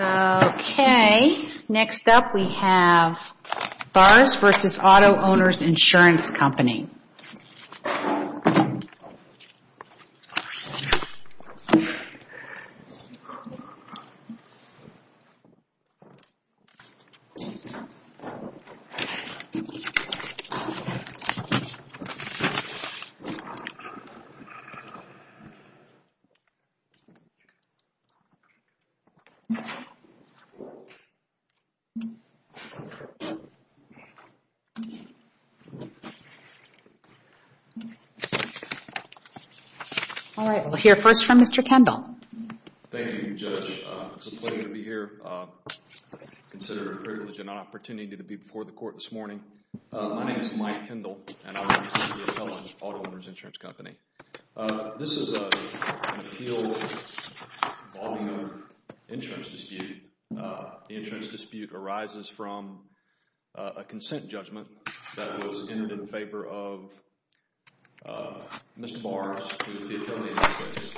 Okay, next up we have Barrs v. Auto-Owners Insurance Company Alright, we'll hear first from Mr. Kendall Thank you, Judge. It's a pleasure to be here. Consider it a privilege and an opportunity to be before the Court this morning. My name The insurance dispute arises from a consent judgment that was entered in favor of Mr. Barrs, who is the attorney in this case.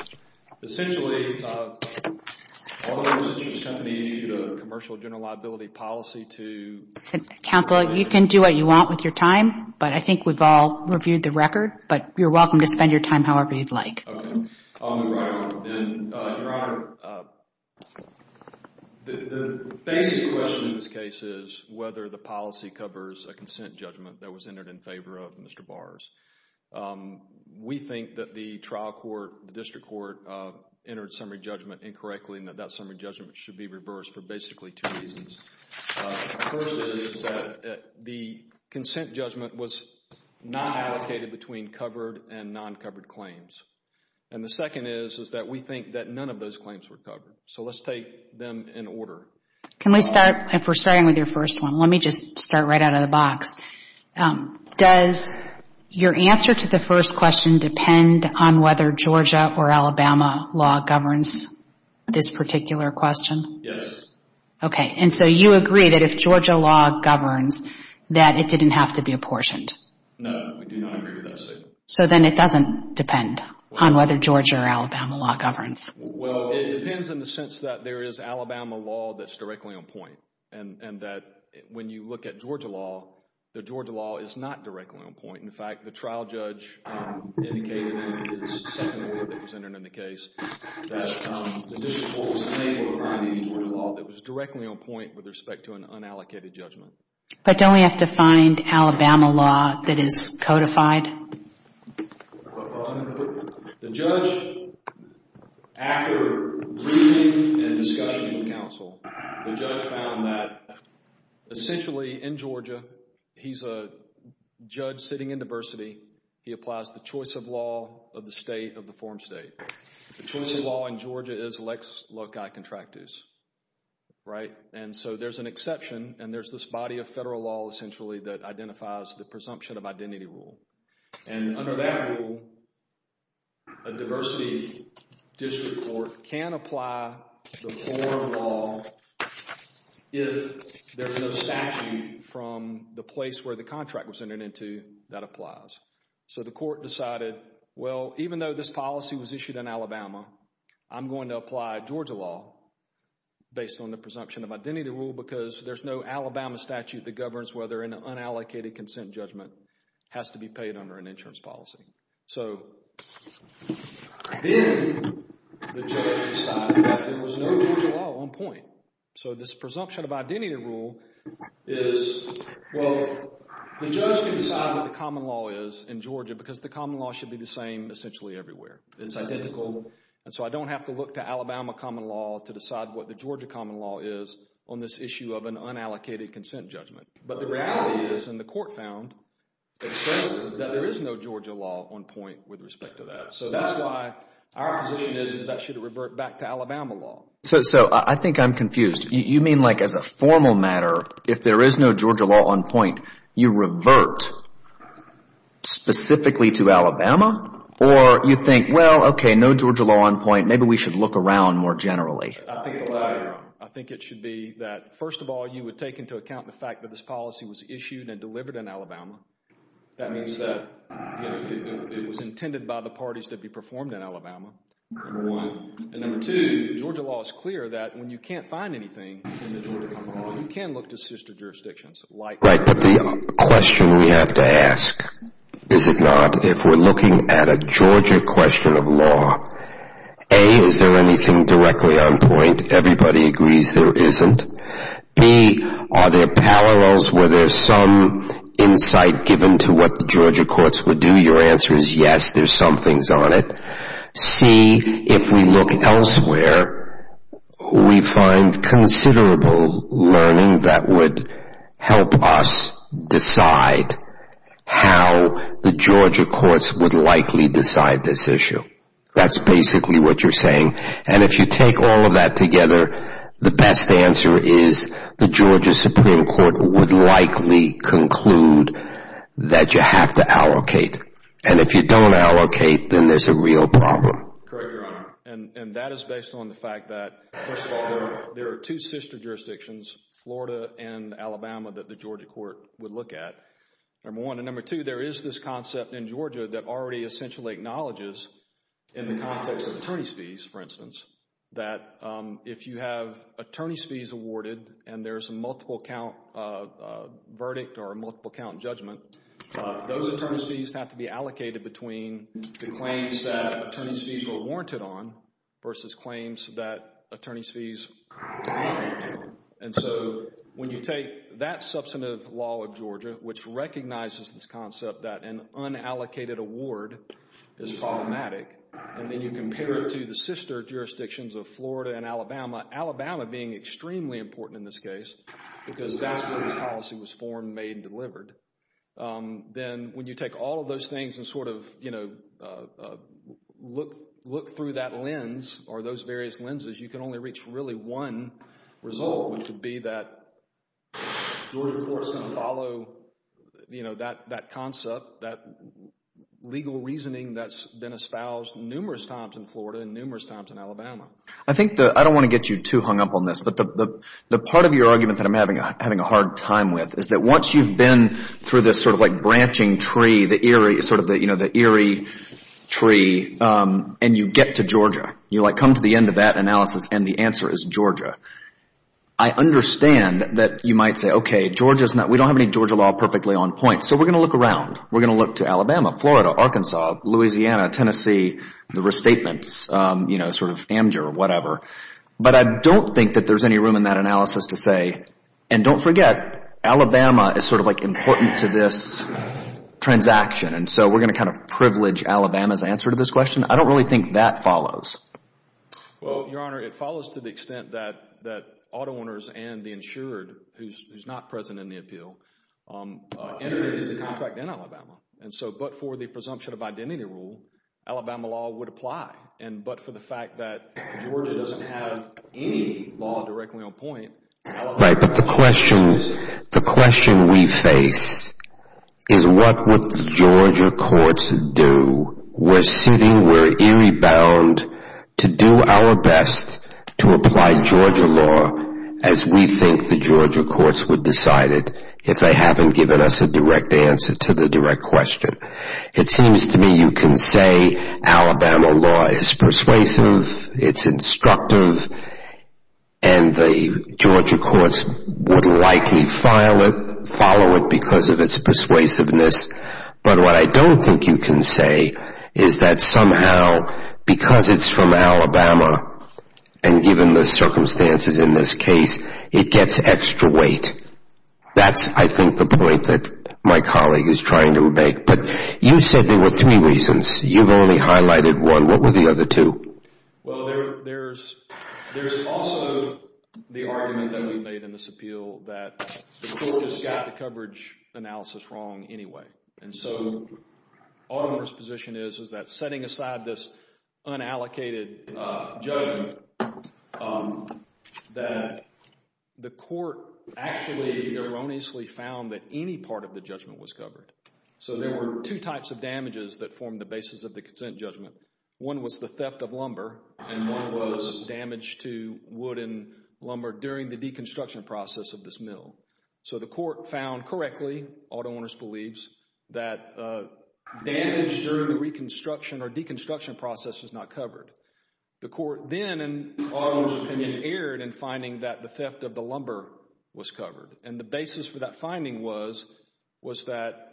Essentially, Auto-Owners Insurance Company issued a commercial general liability policy to Counsel, you can do what you want with your time, but I think we've all reviewed the record, but you're welcome to spend your time however you'd like. Okay, I'll move right along then. Your Honor, the basic question in this case is whether the policy covers a consent judgment that was entered in favor of Mr. Barrs. We think that the trial court, the district court, entered summary judgment incorrectly and that that summary judgment should be reversed for basically two reasons. First is that the consent judgment was not allocated between covered and non-covered claims. And the second is that we think that none of those claims were covered. So let's take them in order. Can we start, if we're starting with your first one, let me just start right out of the box. Does your answer to the first question depend on whether Georgia or Alabama law governs this particular question? Yes. Okay, and so you agree that if Georgia law governs, that it didn't have to be apportioned. No, we do not agree with that statement. So then it doesn't depend on whether Georgia or Alabama law governs. Well, it depends in the sense that there is Alabama law that's directly on point and that when you look at Georgia law, the Georgia law is not directly on point. In fact, the trial judge indicated in his second report that was entered in the case that the district counsel was unable to find any Georgia law that was directly on point with respect to an unallocated judgment. But don't we have to find Alabama law that is codified? The judge, after reading and discussing with counsel, the judge found that essentially in Georgia, he's a judge sitting in diversity. He applies the choice of law of the state of the foreign state. The choice of law in Georgia is Lex Loci Contractus, right? And so there's an exception and there's this body of federal law essentially that identifies the presumption of identity rule. And under that rule, a diversity district court can apply the foreign law if there's no statute from the place where the contract was entered into that applies. So the court decided, well, even though this policy was issued in Alabama, I'm going to apply Georgia law based on the presumption of identity rule because there's no Alabama statute that governs whether an unallocated consent judgment has to be paid under an insurance policy. So then the judge decided that there was no Georgia law on point. So this presumption of identity rule is, well, the judge can decide what the common law is in Georgia because the common law should be the same essentially everywhere. It's identical. And so I don't have to look to Alabama common law to decide what the Georgia common law is on this issue of an unallocated consent judgment. But the reality is, and the court found expressly, that there is no Georgia law on point with respect to that. So that's why our position is that that should revert back to Alabama law. So I think I'm confused. You mean like as a formal matter, if there is no Georgia law on point, you revert specifically to Alabama? Or you think, well, okay, no Georgia law on point, maybe we should look around more generally? I think it should be that, first of all, you would take into account the fact that this policy was issued and delivered in Alabama. That means that it was intended by the parties to be performed in Alabama, number one. And number two, Georgia law is clear that when you can't find anything in the Georgia common law, you can look to sister jurisdictions like Alabama. Right. But the question we have to ask, is it not, if we're looking at a Georgia question of law, A, is there anything directly on point? Everybody agrees there isn't. B, are there parallels? Were there some insight given to what the Georgia courts would do? Your answer is yes, there's some things on it. C, if we look elsewhere, we find considerable learning that would help us decide how the Georgia courts would likely decide this issue. That's basically what you're saying. And if you take all of that together, the best answer is the If you don't allocate, then there's a real problem. Correct, Your Honor. And that is based on the fact that, first of all, there are two sister jurisdictions, Florida and Alabama, that the Georgia court would look at, number one. And number two, there is this concept in Georgia that already essentially acknowledges in the context of attorney's fees, for instance, that if you have attorney's fees awarded and there's a multiple count verdict or a multiple count judgment, those attorney's fees have to be allocated between the claims that attorney's fees are warranted on versus claims that attorney's fees aren't. And so when you take that substantive law of Georgia, which recognizes this concept that an unallocated award is problematic, and then you compare it to the sister jurisdictions of Florida and Alabama, Alabama being extremely important in this case because that's where this policy was formed, made, and delivered, then when you take all of those things and sort of, you know, look through that lens or those various lenses, you can only reach really one result, which would be that Georgia courts can follow, you know, that concept, that legal reasoning that's been espoused numerous times in Florida and numerous times in Alabama. I think the, I don't want to get you too hung up on this, but the part of your argument that I'm having a hard time with is that once you've been through this sort of like branching tree, the eerie, sort of the, you know, the eerie tree, and you get to Georgia, you, like, come to the end of that analysis and the answer is Georgia, I understand that you might say, okay, Georgia's not, we don't have any Georgia law perfectly on point, so we're going to look around. We're going to look to Alabama, Florida, Arkansas, Louisiana, Tennessee, the restatements, you know, sort of AMJR or whatever. But I don't think that there's any room in that analysis to say, and don't forget Alabama is sort of like important to this transaction, and so we're going to kind of privilege Alabama's answer to this question. I don't really think that follows. Well, Your Honor, it follows to the extent that auto owners and the insured, who's not present in the appeal, entered into the contract in Alabama. And so, but for the presumption of identity rule, Alabama law would apply. And but for the fact that Georgia doesn't have any law directly on point, Alabama... Right, but the question, the question we face is what would the Georgia courts do? We're sitting, we're eerie bound to do our best to apply Georgia law as we think the Georgia courts would decide it if they haven't given us a direct answer to the direct question. It seems to me you can say Alabama law is persuasive, it's instructive, and the Georgia courts would likely file it, follow it because of its persuasiveness. But what I don't think you can say is that somehow, because it's from Alabama, and given the circumstances in this case, it gets extra weight. That's, I think, the point that my colleague is trying to make. But you said there were three reasons. You've only highlighted one. What were the other two? Well, there's also the argument that we made in this appeal that the court just got the coverage analysis wrong anyway. And so, auto owner's position is, is that setting aside this unallocated judgment, that the court actually erroneously found that any part of the judgment was covered. So there were two types of damages that formed the basis of the consent judgment. One was the theft of lumber, and one was damage to wood and lumber during the deconstruction process of this mill. So the court found correctly, auto owner's believes, that damage during the reconstruction or deconstruction process was not covered. The court then, in auto owner's opinion, erred in finding that the theft of the lumber was that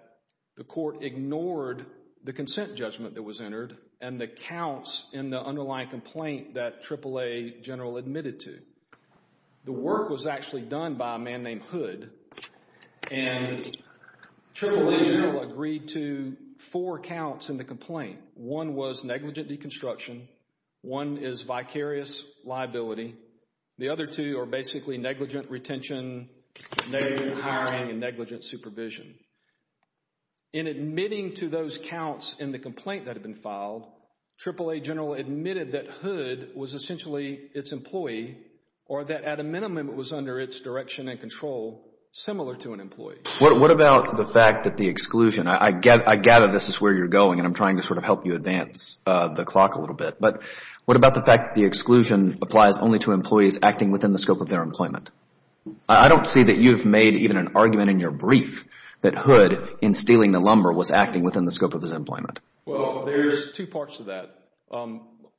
the court ignored the consent judgment that was entered and the counts in the underlying complaint that AAA General admitted to. The work was actually done by a man named Hood, and AAA General agreed to four counts in the complaint. One was negligent deconstruction. One is vicarious liability. The other two are basically negligent retention, negligent supervision. In admitting to those counts in the complaint that had been filed, AAA General admitted that Hood was essentially its employee or that at a minimum it was under its direction and control, similar to an employee. What about the fact that the exclusion, I gather this is where you're going and I'm trying to sort of help you advance the clock a little bit, but what about the fact that the exclusion applies only to employees acting within the scope of their employment? I don't see that you've made even an argument in your brief that Hood, in stealing the lumber, was acting within the scope of his employment. Well, there's two parts to that.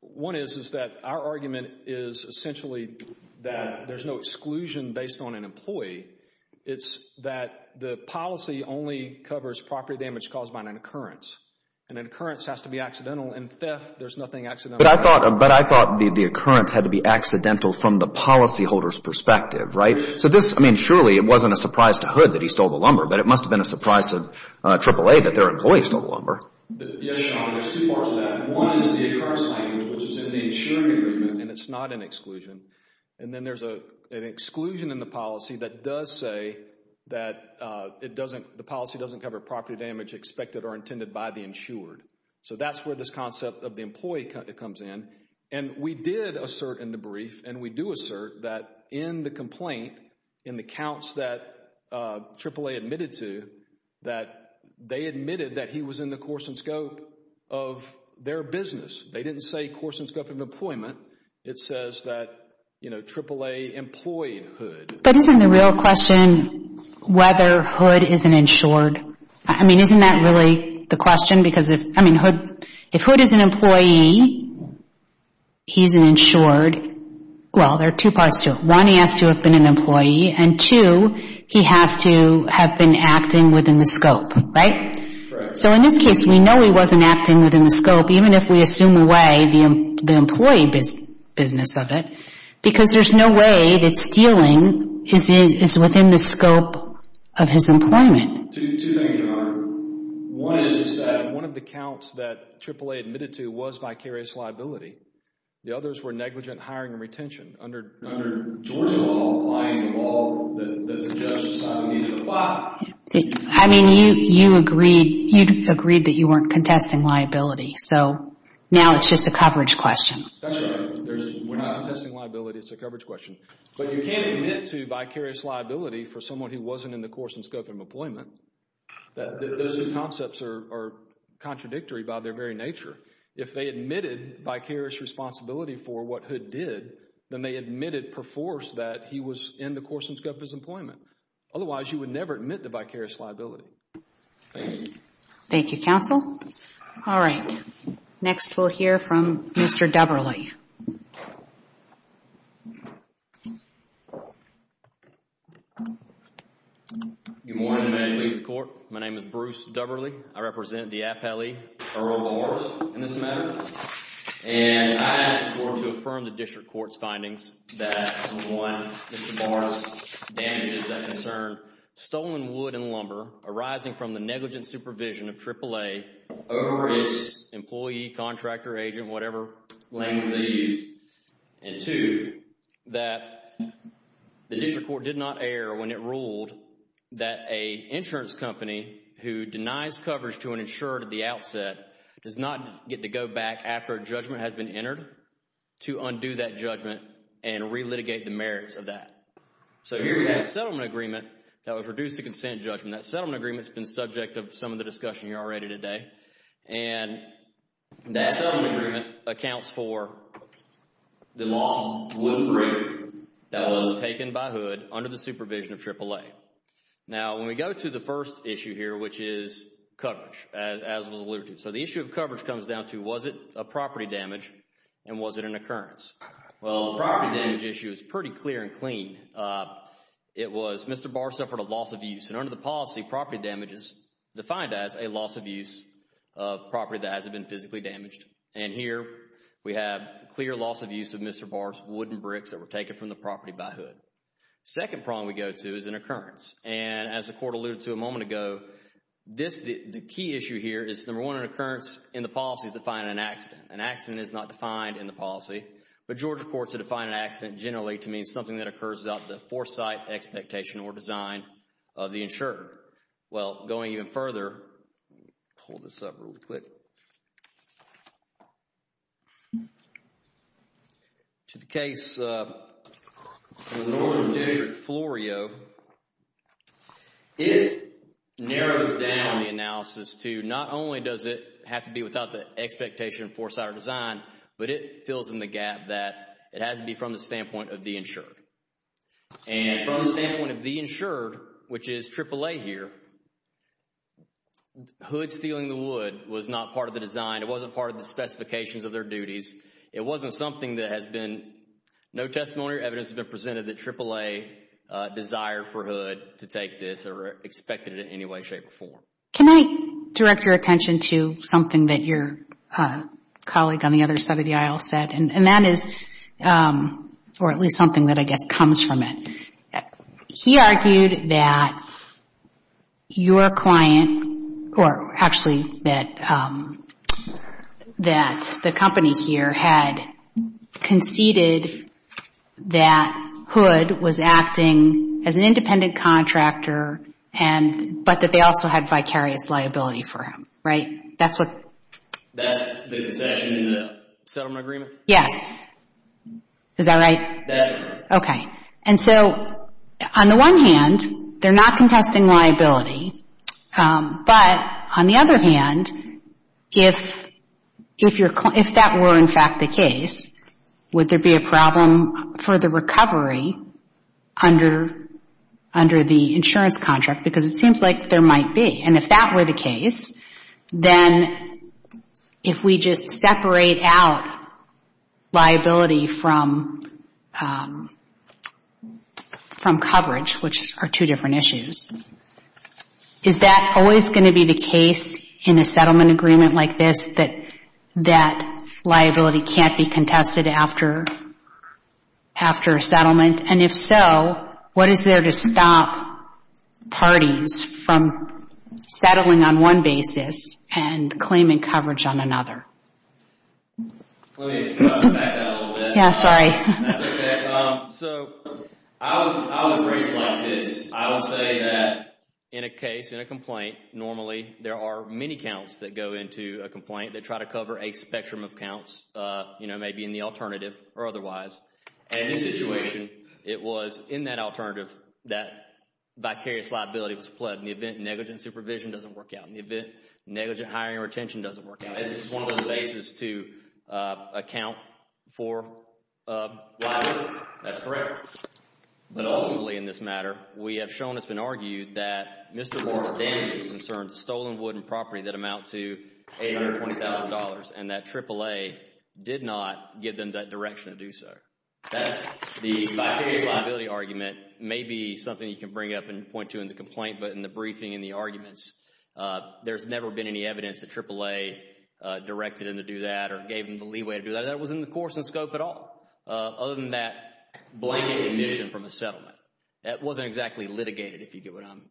One is that our argument is essentially that there's no exclusion based on an employee. It's that the policy only covers property damage caused by an occurrence. An occurrence has to be accidental. In theft, there's nothing accidental. But I thought the occurrence had to be accidental from the policyholder's perspective, right? So this, I mean, surely it wasn't a surprise to Hood that he stole the lumber, but it must have been a surprise to AAA that their employee stole the lumber. Yes, Your Honor. There's two parts to that. One is the occurrence language, which is in the insured agreement, and it's not an exclusion. And then there's an exclusion in the policy that does say that the policy doesn't cover property damage expected or intended by the insured. So that's where this concept of the employee comes in. And we did assert in the accounts that AAA admitted to that they admitted that he was in the course and scope of their business. They didn't say course and scope of employment. It says that, you know, AAA employed Hood. But isn't the real question whether Hood is an insured? I mean, isn't that really the question? Because, I mean, if Hood is an employee, he's an insured. Well, there are two parts to it. One, he has to have been an employee, and two, he has to have been acting within the scope, right? Correct. So in this case, we know he wasn't acting within the scope, even if we assume away the employee business of it, because there's no way that stealing is within the scope of his employment. Two things, Your Honor. One is that one of the accounts that AAA admitted to was vicarious liability. The others were negligent hiring and retention under Georgia law, applying the law that the judge decided he needed to apply. I mean, you agreed that you weren't contesting liability. So now it's just a coverage question. That's right. We're not contesting liability. It's a coverage question. But you can't admit to vicarious liability for someone who wasn't in the course and scope of employment. Those two concepts are contradictory by their very nature. If they admitted vicarious responsibility for what Hood did, then they admitted per force that he was in the course and scope of his employment. Otherwise, you would never admit to vicarious liability. Thank you. Thank you, counsel. All right. Next, we'll hear from Mr. Dubberly. Good morning, Medicaid Police Court. My name is Bruce Dubberly. I represent the appellee, Earl Morris, in this matter. And I ask the court to affirm the district court's findings that, one, Mr. Morris' damages that concern stolen wood and lumber arising from the negligent supervision of AAA over its employee, contractor, agent, whatever language they used. And two, that the district court did not err when it ruled that an insurance company who denies coverage to an insurer at the outset does not get to go back after a judgment has been entered to undo that judgment and relitigate the merits of that. So here we have a settlement agreement that would reduce the consent judgment. That settlement agreement has been subject to some of the discussion here already today. And that settlement agreement accounts for the loss of wood for a year that was taken by hood under the supervision of AAA. Now, when we go to the first issue here, which is coverage, as was alluded to. So the issue of coverage comes down to was it a property damage and was it an occurrence? Well, the property damage issue is pretty clear and clean. It was Mr. Barr suffered a loss of use. And under the policy, property damage is defined as a loss of use of property that hasn't been physically damaged. And here we have clear loss of use of Mr. Barr's wood and bricks that were taken from the property by hood. Second problem we go to is an occurrence. And as the court alluded to a moment ago, the key issue here is, number one, an occurrence in the policy is defined as an accident. An accident is not defined in the policy. But Georgia courts have defined an accident generally to mean something that occurs without the standpoint of the insured. Well, going even further, pull this up real quick. To the case in the northern district, Florio, it narrows down the analysis to not only does it have to be without the expectation of foresight or design, but it fills in the gap that it From the standpoint of the insured, which is AAA here, hood stealing the wood was not part of the design. It wasn't part of the specifications of their duties. It wasn't something that has been, no testimony or evidence has been presented that AAA desired for hood to take this or expected it in any way, shape or form. Can I direct your attention to something that your colleague on the other side of the aisle said? And that is, or at least something that I guess comes from it. He argued that your client, or actually that the company here had conceded that hood was acting as an independent contractor, but that they also had vicarious liability for him, right? That's the concession in the settlement agreement? Yes. Is that right? That's correct. Okay. And so on the one hand, they're not contesting liability, but on the other hand, if that were in fact the case, would there be a problem for the recovery under the insurance contract? Because it seems like there might be. And if that were the case, then if we just separate out liability from coverage, which are two different issues, is that always going to be the case in a settlement agreement like this that liability can't be contested after a settlement? And if so, what is there to stop parties from settling on one basis and claiming coverage on another? Let me back that up a little bit. Yeah, sorry. That's okay. So I would phrase it like this. I would say that in a case, in a complaint, normally there are many counts that go into a complaint that try to cover a spectrum of In this situation, it was in that alternative that vicarious liability was pledged. In the event, negligent supervision doesn't work out. In the event, negligent hiring or retention doesn't work out. It's just one of the bases to account for liability. That's correct. But ultimately in this matter, we have shown, it's been argued, that Mr. Morris-Dandy is concerned that stolen wood and property that amount to $820,000 and that AAA did not give him that direction to do so. That's the vicarious liability argument. Maybe something you can bring up and point to in the complaint, but in the briefing and the arguments, there's never been any evidence that AAA directed him to do that or gave him the leeway to do that. That wasn't in the course and scope at all, other than that blanket admission from a settlement. That wasn't exactly litigated, if you get what I'm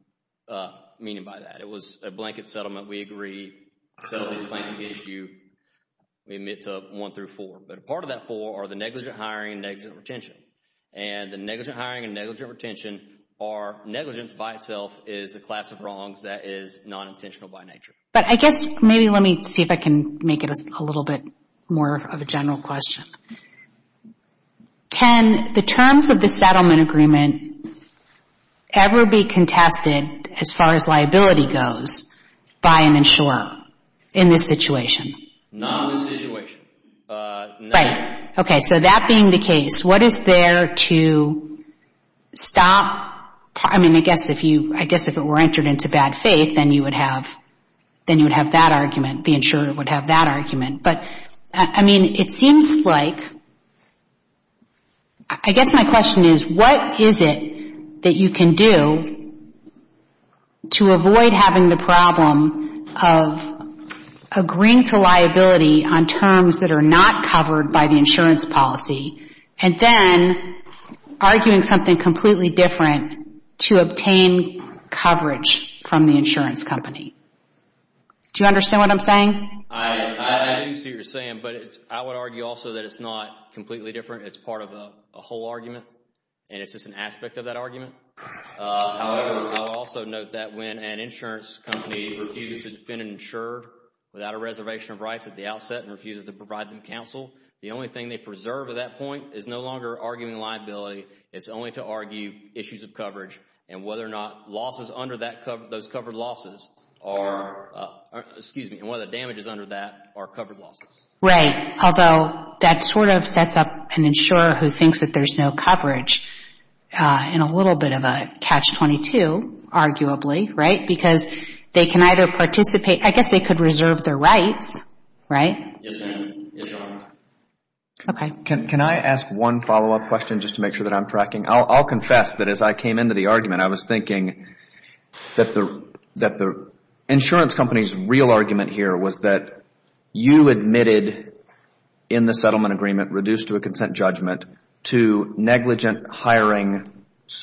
meaning by that. It was a blanket settlement. We agree. Settlement is a blanket issue. We admit to one through four, but a part of that four are the negligent hiring and negligent retention. The negligent hiring and negligent retention are negligence by itself is a class of wrongs that is non-intentional by nature. But I guess, maybe let me see if I can make it a little bit more of a general question. Can the terms of the settlement agreement ever be contested as far as liability goes by an insurer in this situation? Not in this situation. Right. Okay. So that being the case, what is there to stop? I mean, I guess if it were entered into bad faith, then you would have that argument. The insurer would have that argument. But, I mean, it seems like, I guess my question is, what is it that you can do to avoid having the problem of agreeing to liability on terms that are not covered by the insurance policy, and then arguing something completely different to obtain coverage from the insurance company? Do you understand what I'm saying? I do see what you're saying, but I would argue also that it's not completely different. It's part of a whole argument, and it's just an aspect of that argument. However, I would also note that when an insurance company refuses to defend an insurer without a reservation of rights at the outset and refuses to provide them counsel, the only thing they preserve at that point is no longer arguing liability. It's only to argue issues of coverage and whether or not losses under those covered losses are, excuse me, and whether the damages under that are covered losses. Right. Although, that sort of sets up an insurer who thinks that there's no coverage in a little bit of a catch-22, arguably, right? Because they can either participate, I guess they could reserve their rights, right? Yes, ma'am. Yes, Your Honor. Okay. Can I ask one follow-up question just to make sure that I'm tracking? I'll confess that as I came into the argument, I was thinking that the insurance company's real argument here was that you admitted in the settlement agreement, reduced to a consent judgment, to negligent hiring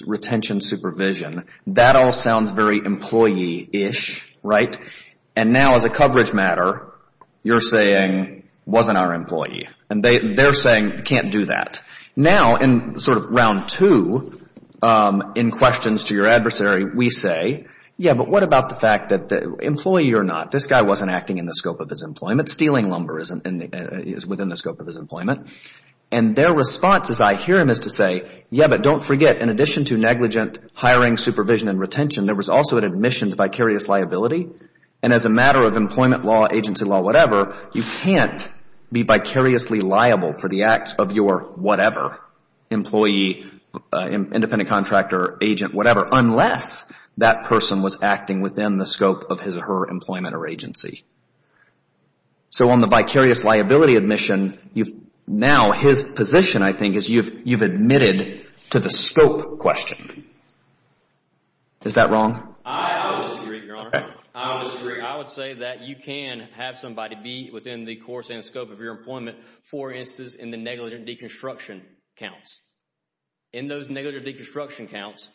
retention supervision. That all sounds very employee-ish, right? And now, as a coverage matter, you're saying, wasn't our employee. And they're saying, can't do that. Now, in sort of round two, in questions to your adversary, we say, yeah, but what about the fact that employee or not, this guy wasn't acting in the scope of his employment. Stealing lumber is within the scope of his employment. And their response, as I hear them, is to say, yeah, but don't forget, in addition to negligent hiring supervision and retention, there was also an admission to vicarious liability. And as a matter of employment law, agency law, whatever, you can't be vicariously liable for the acts of your whatever, employee, independent contractor, agent, whatever, unless that person was acting within the scope of his or her employment or agency. So on the vicarious liability admission, now his position, I think, is you've admitted to the scope question. Is that wrong? I would disagree, Your Honor. I would disagree. I would say that you can have somebody be within the course and scope of your employment, for instance, in the negligent deconstruction counts. In those negligent deconstruction counts,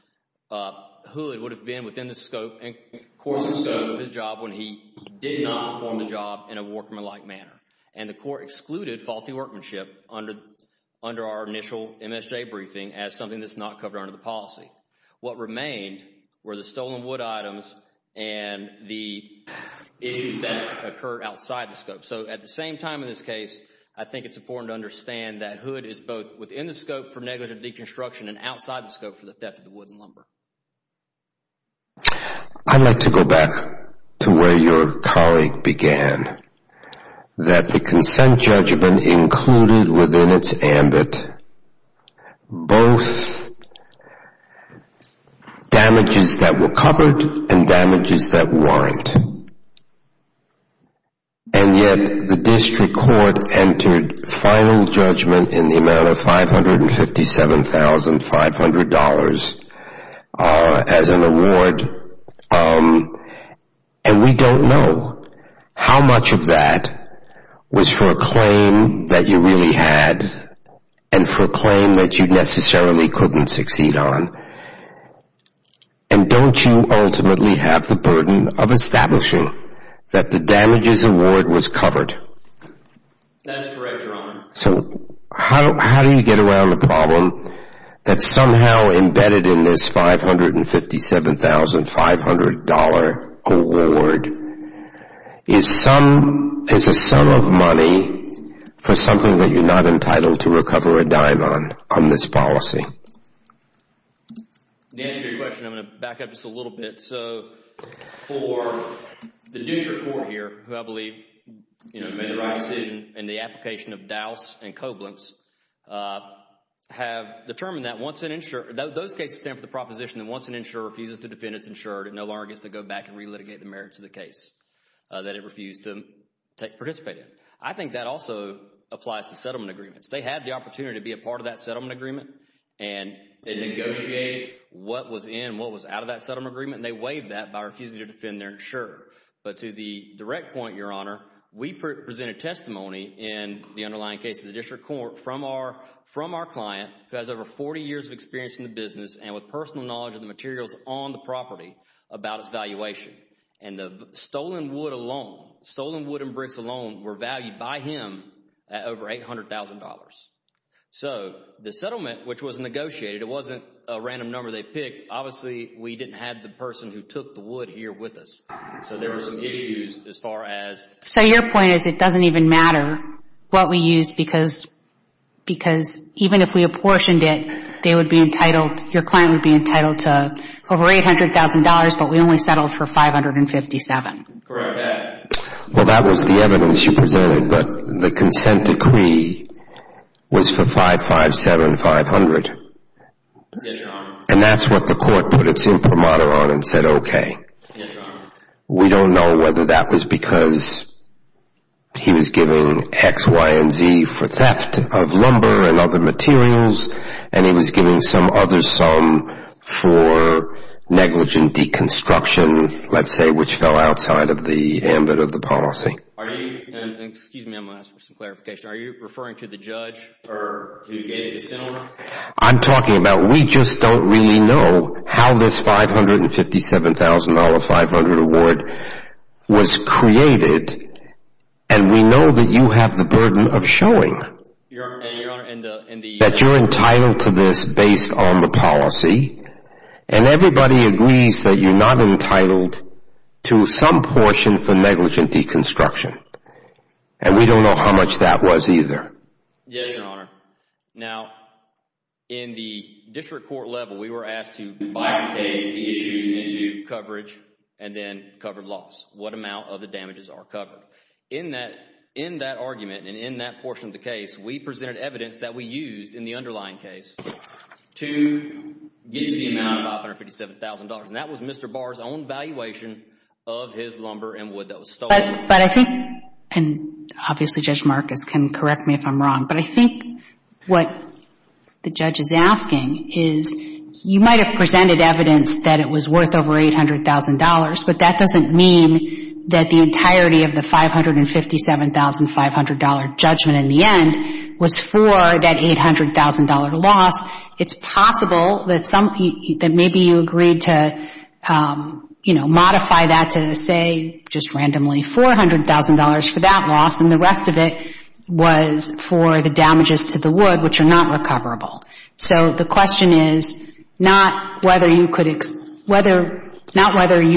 Hood would have been within the scope and course and scope of his job when he did not perform the job in a workmanlike manner. And the court excluded faulty workmanship under our initial MSJ briefing as something that's not covered under the policy. What remained were the stolen wood items and the issues that occurred outside the scope. So at the same time in this case, I think it's important to understand that Hood is both within the scope for negligent deconstruction and outside the scope for the theft of the wood and lumber. I'd like to go back to where your colleague began, that the consent judgment included within its ambit both damages that were covered and damages that weren't. And yet the district court entered final judgment in the amount of $557,500 as an award, and we don't know how much of that was for a claim that you really had and for a claim that you necessarily couldn't succeed on. And don't you ultimately have the burden of establishing that the damages award was covered? That's correct, Your Honor. So how do you get around the problem that somehow embedded in this $557,500 award is a sum of money for something that you're not entitled to recover a dime on, on this policy? To answer your question, I'm going to back up just a little bit. So for the district court here, who I believe, you know, made the right decision in the application of Dowse and Koblentz, have determined that once an insurer, those cases stand for the proposition that once an insurer refuses to defend its insurer, it no longer gets to go back and relitigate the merits of the case that it refused to participate in. I think that also applies to settlement agreements. They had the opportunity to be a part of that settlement agreement and they negotiated what was in and what was out of that settlement agreement and they waived that by refusing to defend their insurer. But to the direct point, Your Honor, we presented testimony in the underlying case of the district court from our, from our client, who has over 40 years of experience in the business and with personal knowledge of the materials on the property about its valuation. And the stolen wood alone, stolen was negotiated. It wasn't a random number they picked. Obviously, we didn't have the person who took the wood here with us. So there were some issues as far as So your point is it doesn't even matter what we used because, because even if we apportioned it, they would be entitled, your client would be entitled to over $800,000, but we only settled for $557,000. Correct. Well, that was the evidence you presented, but the consent decree was for $557,500. Yes, Your Honor. And that's what the court put its imprimatur on and said, okay. Yes, Your Honor. We don't know whether that was because he was giving X, Y, and Z for theft of lumber and other materials and he was giving some other sum for negligent deconstruction, let's say, which fell outside of the ambit of the policy. Are you, and excuse me, I'm going to ask for some clarification, are you referring to the judge who gave the consent order? I'm talking about we just don't really know how this $557,500 award was created and we know that you have the burden of showing that you're entitled to this based on the policy and everybody agrees that you're not entitled to some portion for negligent deconstruction and we don't know how much that was either. Yes, Your Honor. Now, in the district court level, we were asked to bifurcate the issues into coverage and then covered loss, what amount of the damages are covered. In that argument and in that portion of the case, we presented evidence that we used in the underlying case to get to the amount of $557,000 and that was Mr. Barr's own valuation of his lumber and wood that was stolen. But I think, and obviously Judge Marcus can correct me if I'm wrong, but I think what the judge is asking is you might have presented evidence that it was worth over $800,000, but that doesn't mean that the entirety of the $557,500 judgment in the end was for that $800,000 loss. It's possible that maybe you agreed to modify that to say just randomly $400,000 for that loss and the rest of it was for the damages to the wood, which are not recoverable. So the question is not whether you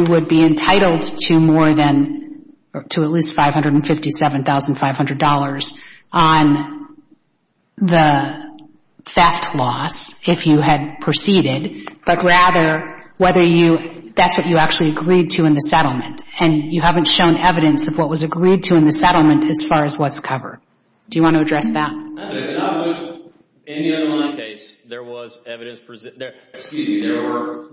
would be entitled to more than, to at least $557,500 on the theft loss if you had proceeded, but rather whether you, that's what you actually agreed to in the settlement and you haven't shown evidence of what was agreed to in the settlement as far as what's covered. Do you want to address that? In the underlying case, there was evidence, excuse me, there were,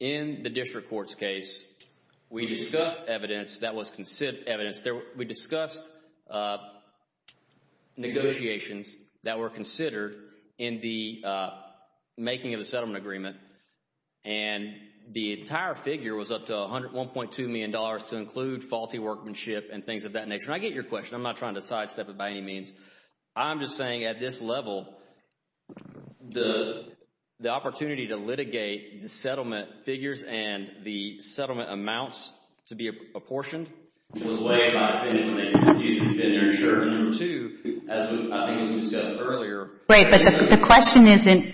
in the district court's case, we discussed evidence that was considered, we discussed negotiations that were considered in the making of the settlement agreement and the entire figure was up to $1.2 million to include faulty workmanship and things of that nature. And I get your question. I'm not trying to sidestep it by any means. I'm just saying at this level, the opportunity to litigate the settlement figures and the settlement amounts to be apportioned was a way of not spending money, excuse me, to defend their insurance. Number two, I think as we discussed earlier. Right, but the question isn't,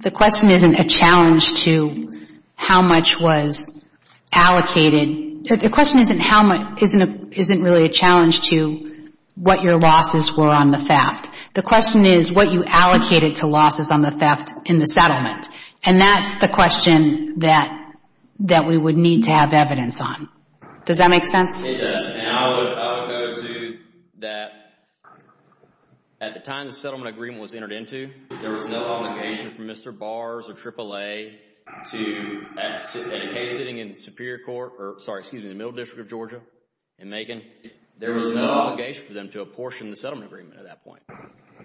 the question isn't a challenge to how much was allocated. The question isn't how much, isn't really a challenge to what your losses were on the theft. The question is what you allocated to losses on the theft in the settlement. And that's the question that we would need to have evidence on. Does that make sense? It does. And I would go to that at the time the settlement agreement was entered into, there was no obligation for Mr. Bars or AAA to, in a case sitting in Superior Court, or sorry, excuse me, the Middle District of Georgia in Macon, there was no obligation for them to apportion the settlement agreement at that point.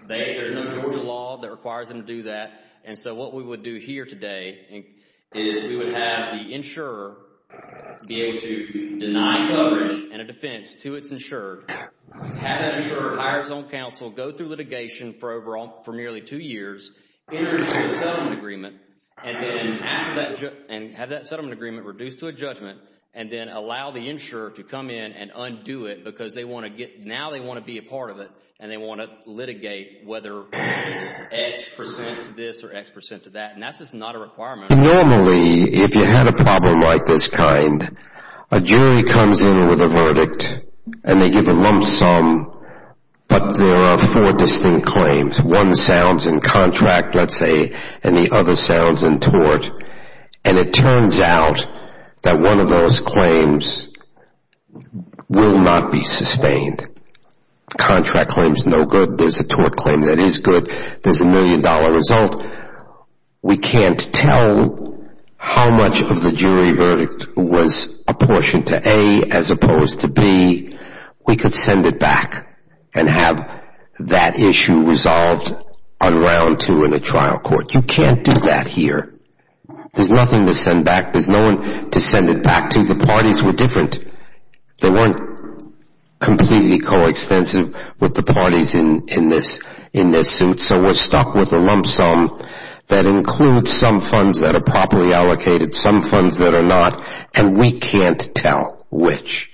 There's no Georgia law that requires them to do that. And so what we would do here today is we would have the insurer be able to deny coverage and a defense to its insured, have that insured hire its own counsel, go through litigation for nearly two years, enter into a settlement agreement, and then after that, and have that settlement agreement reduced to a judgment, and then allow the insurer to come in and undo it because they want to get, now they want to be a part of it, and they want to litigate whether it's X percent to this or X percent to that. And that's just not a requirement. Normally, if you had a problem like this kind, a jury comes in with a verdict, and they give a lump sum, but there are four distinct claims. One sounds in contract, let's say, and the other sounds in tort. And it turns out that one of those claims will not be sustained. Contract claim is no good. There's a tort claim that is good. There's a million dollar result. We can't tell how much of the jury verdict was apportioned to A as opposed to B. We could send it back and have that issue resolved on round two in the trial court. You can't do that here. There's nothing to send back. There's no one to send it back to. The parties were different. They weren't completely coextensive with the parties in this suit, so we're stuck with a lump sum that includes some funds that are properly allocated, some funds that are not, and we can't tell which.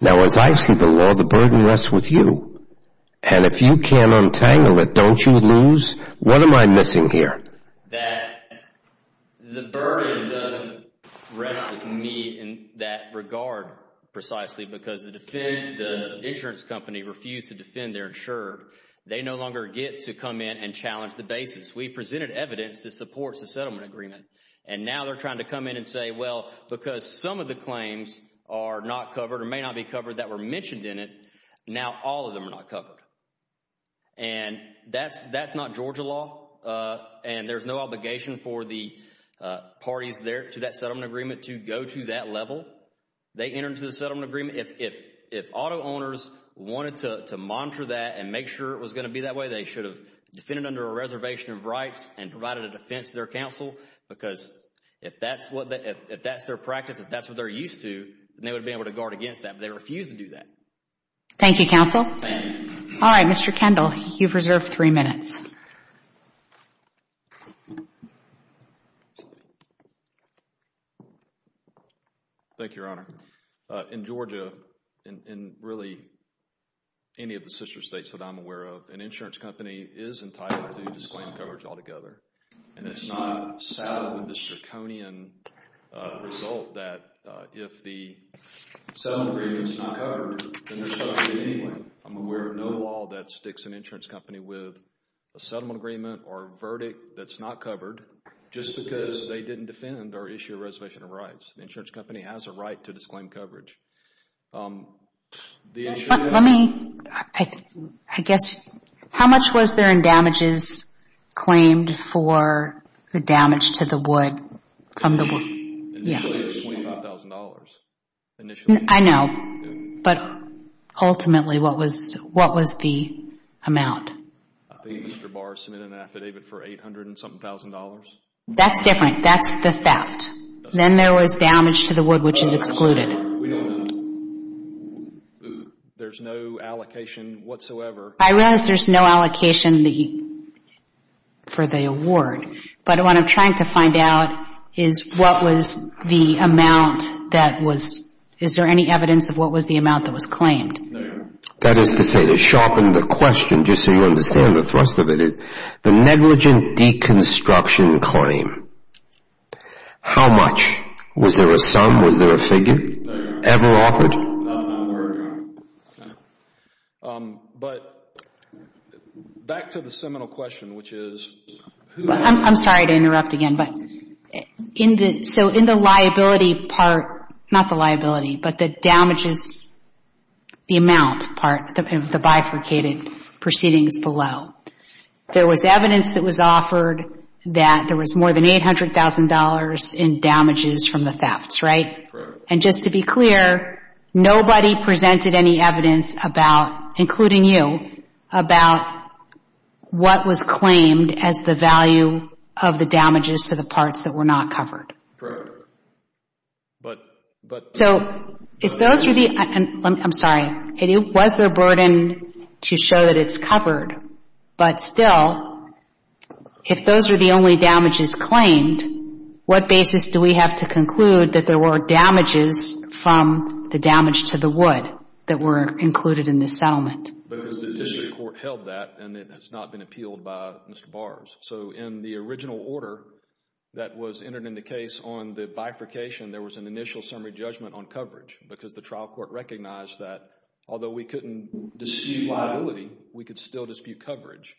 Now, as I see the law, the burden rests with you. And if you can't untangle it, don't you lose? What am I missing here? That the burden doesn't rest with me in that regard precisely because the insurance company refused to defend their insurer. They no longer get to come in and challenge the basis. We presented evidence that supports the settlement agreement, and now they're trying to come in and say, well, because some of the claims are not covered or may not be covered that were mentioned in it, now all of them are not covered. And that's not Georgia law, and there's no obligation for the parties there to that settlement agreement to go to that and make sure it was going to be that way. They should have defended under a reservation of rights and provided a defense to their counsel because if that's their practice, if that's what they're used to, then they would have been able to guard against that, but they refused to do that. Thank you, counsel. Thank you. All right, Mr. Kendall, you've reserved three minutes. Thank you, Your Honor. In Georgia, in really any of the sister states that I'm aware of, an insurance company is entitled to disclaim coverage altogether, and it's not saddled with this draconian result that if the settlement agreement is not covered, then they're a settlement agreement or verdict that's not covered just because they didn't defend or issue a reservation of rights. The insurance company has a right to disclaim coverage. Let me, I guess, how much was there in damages claimed for the damage to the wood? Initially it was $25,000. I know, but ultimately what was the amount? I think Mr. Barr submitted an affidavit for $800 and something thousand dollars. That's different. That's the theft. Then there was damage to the wood, which is excluded. We don't know. There's no allocation whatsoever. I realize there's no allocation for the award, but what I'm trying to find out is what was the amount that was, is there any evidence of what was the amount that was claimed? There you are. That is to say, to sharpen the question, just so you understand the thrust of it, the negligent deconstruction claim, how much? Was there a sum? Was there a figure? There you are. Ever offered? That's not where we're going. But back to the seminal question, which is who... I'm sorry to interrupt again, but in the, so in the liability part, not the liability, but the damages, the amount part, the bifurcated proceedings below, there was evidence that was offered that there was more than $800,000 in damages from the thefts, right? Correct. And just to be clear, nobody presented any evidence about, including you, about what was claimed as the value of the damages to the parts that were not covered. Correct. But... So if those were the, I'm sorry, it was their burden to show that it's covered, but still, if those were the only damages claimed, what basis do we have to conclude that there were damages from the damage to the wood that were included in the settlement? Because the district court held that, and it has not been appealed by Mr. Bars. So in the original order that was entered in the case on the bifurcation, there was an initial summary judgment on coverage because the trial court recognized that, although we couldn't dispute liability, we could still dispute coverage.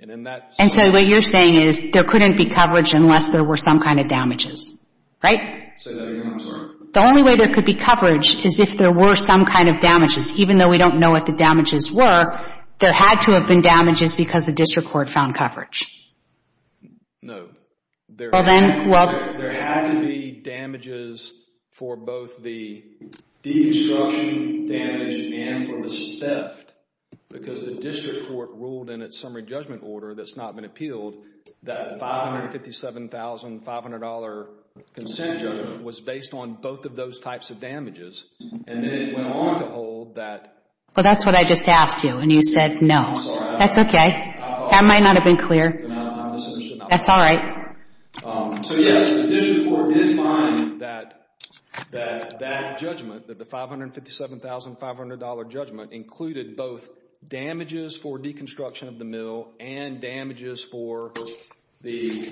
And in that... And so what you're saying is there couldn't be coverage unless there were some kind of damages, right? Say that again, I'm sorry. The only way there could be coverage is if there were some kind of damages. Even though we don't know what the damages were, there had to have been damages because the district court found coverage. No. Well then, well... There had to be damages for both the deconstruction damage and for the theft because the district court ruled in its summary judgment order that's not been appealed that $557,500 consent judgment was based on both of those types of damages. And then it went on to hold that... Well, that's what I just asked you, and you said no. I'm sorry. That's okay. That might not have been clear. That's all right. So, yes, the district court did find that that judgment, that the $557,500 judgment, included both damages for deconstruction of the mill and damages for the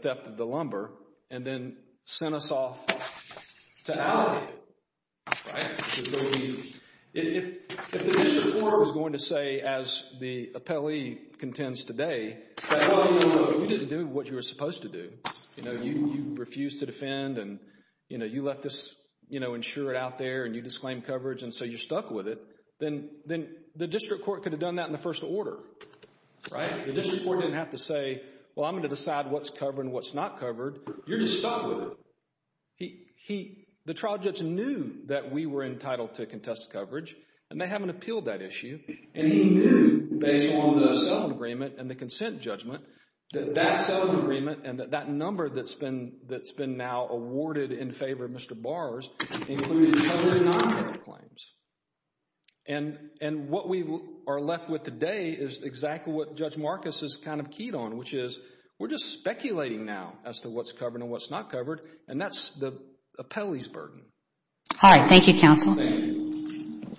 theft of the lumber and then sent us off to alibi, right? If the district court was going to say, as the appellee contends today, that you didn't do what you were supposed to do, you know, you refused to defend and, you know, you let this, you know, insure it out there and you disclaimed coverage and so you're stuck with it, then the district court could have done that in the first order, right? The district court didn't have to say, well, I'm going to decide what's covered and what's not covered. You're just stuck with it. The trial judge knew that we were entitled to contested coverage, and they haven't appealed that issue, and he knew, based on the settlement agreement and the consent judgment, that that settlement agreement and that number that's been now awarded in favor of Mr. Bars included both non-covered claims. And what we are left with today is exactly what Judge Marcus has kind of keyed on, which is we're just speculating now as to what's covered and what's not covered, and that's the appellee's burden. All right. Thank you, counsel. Thank you.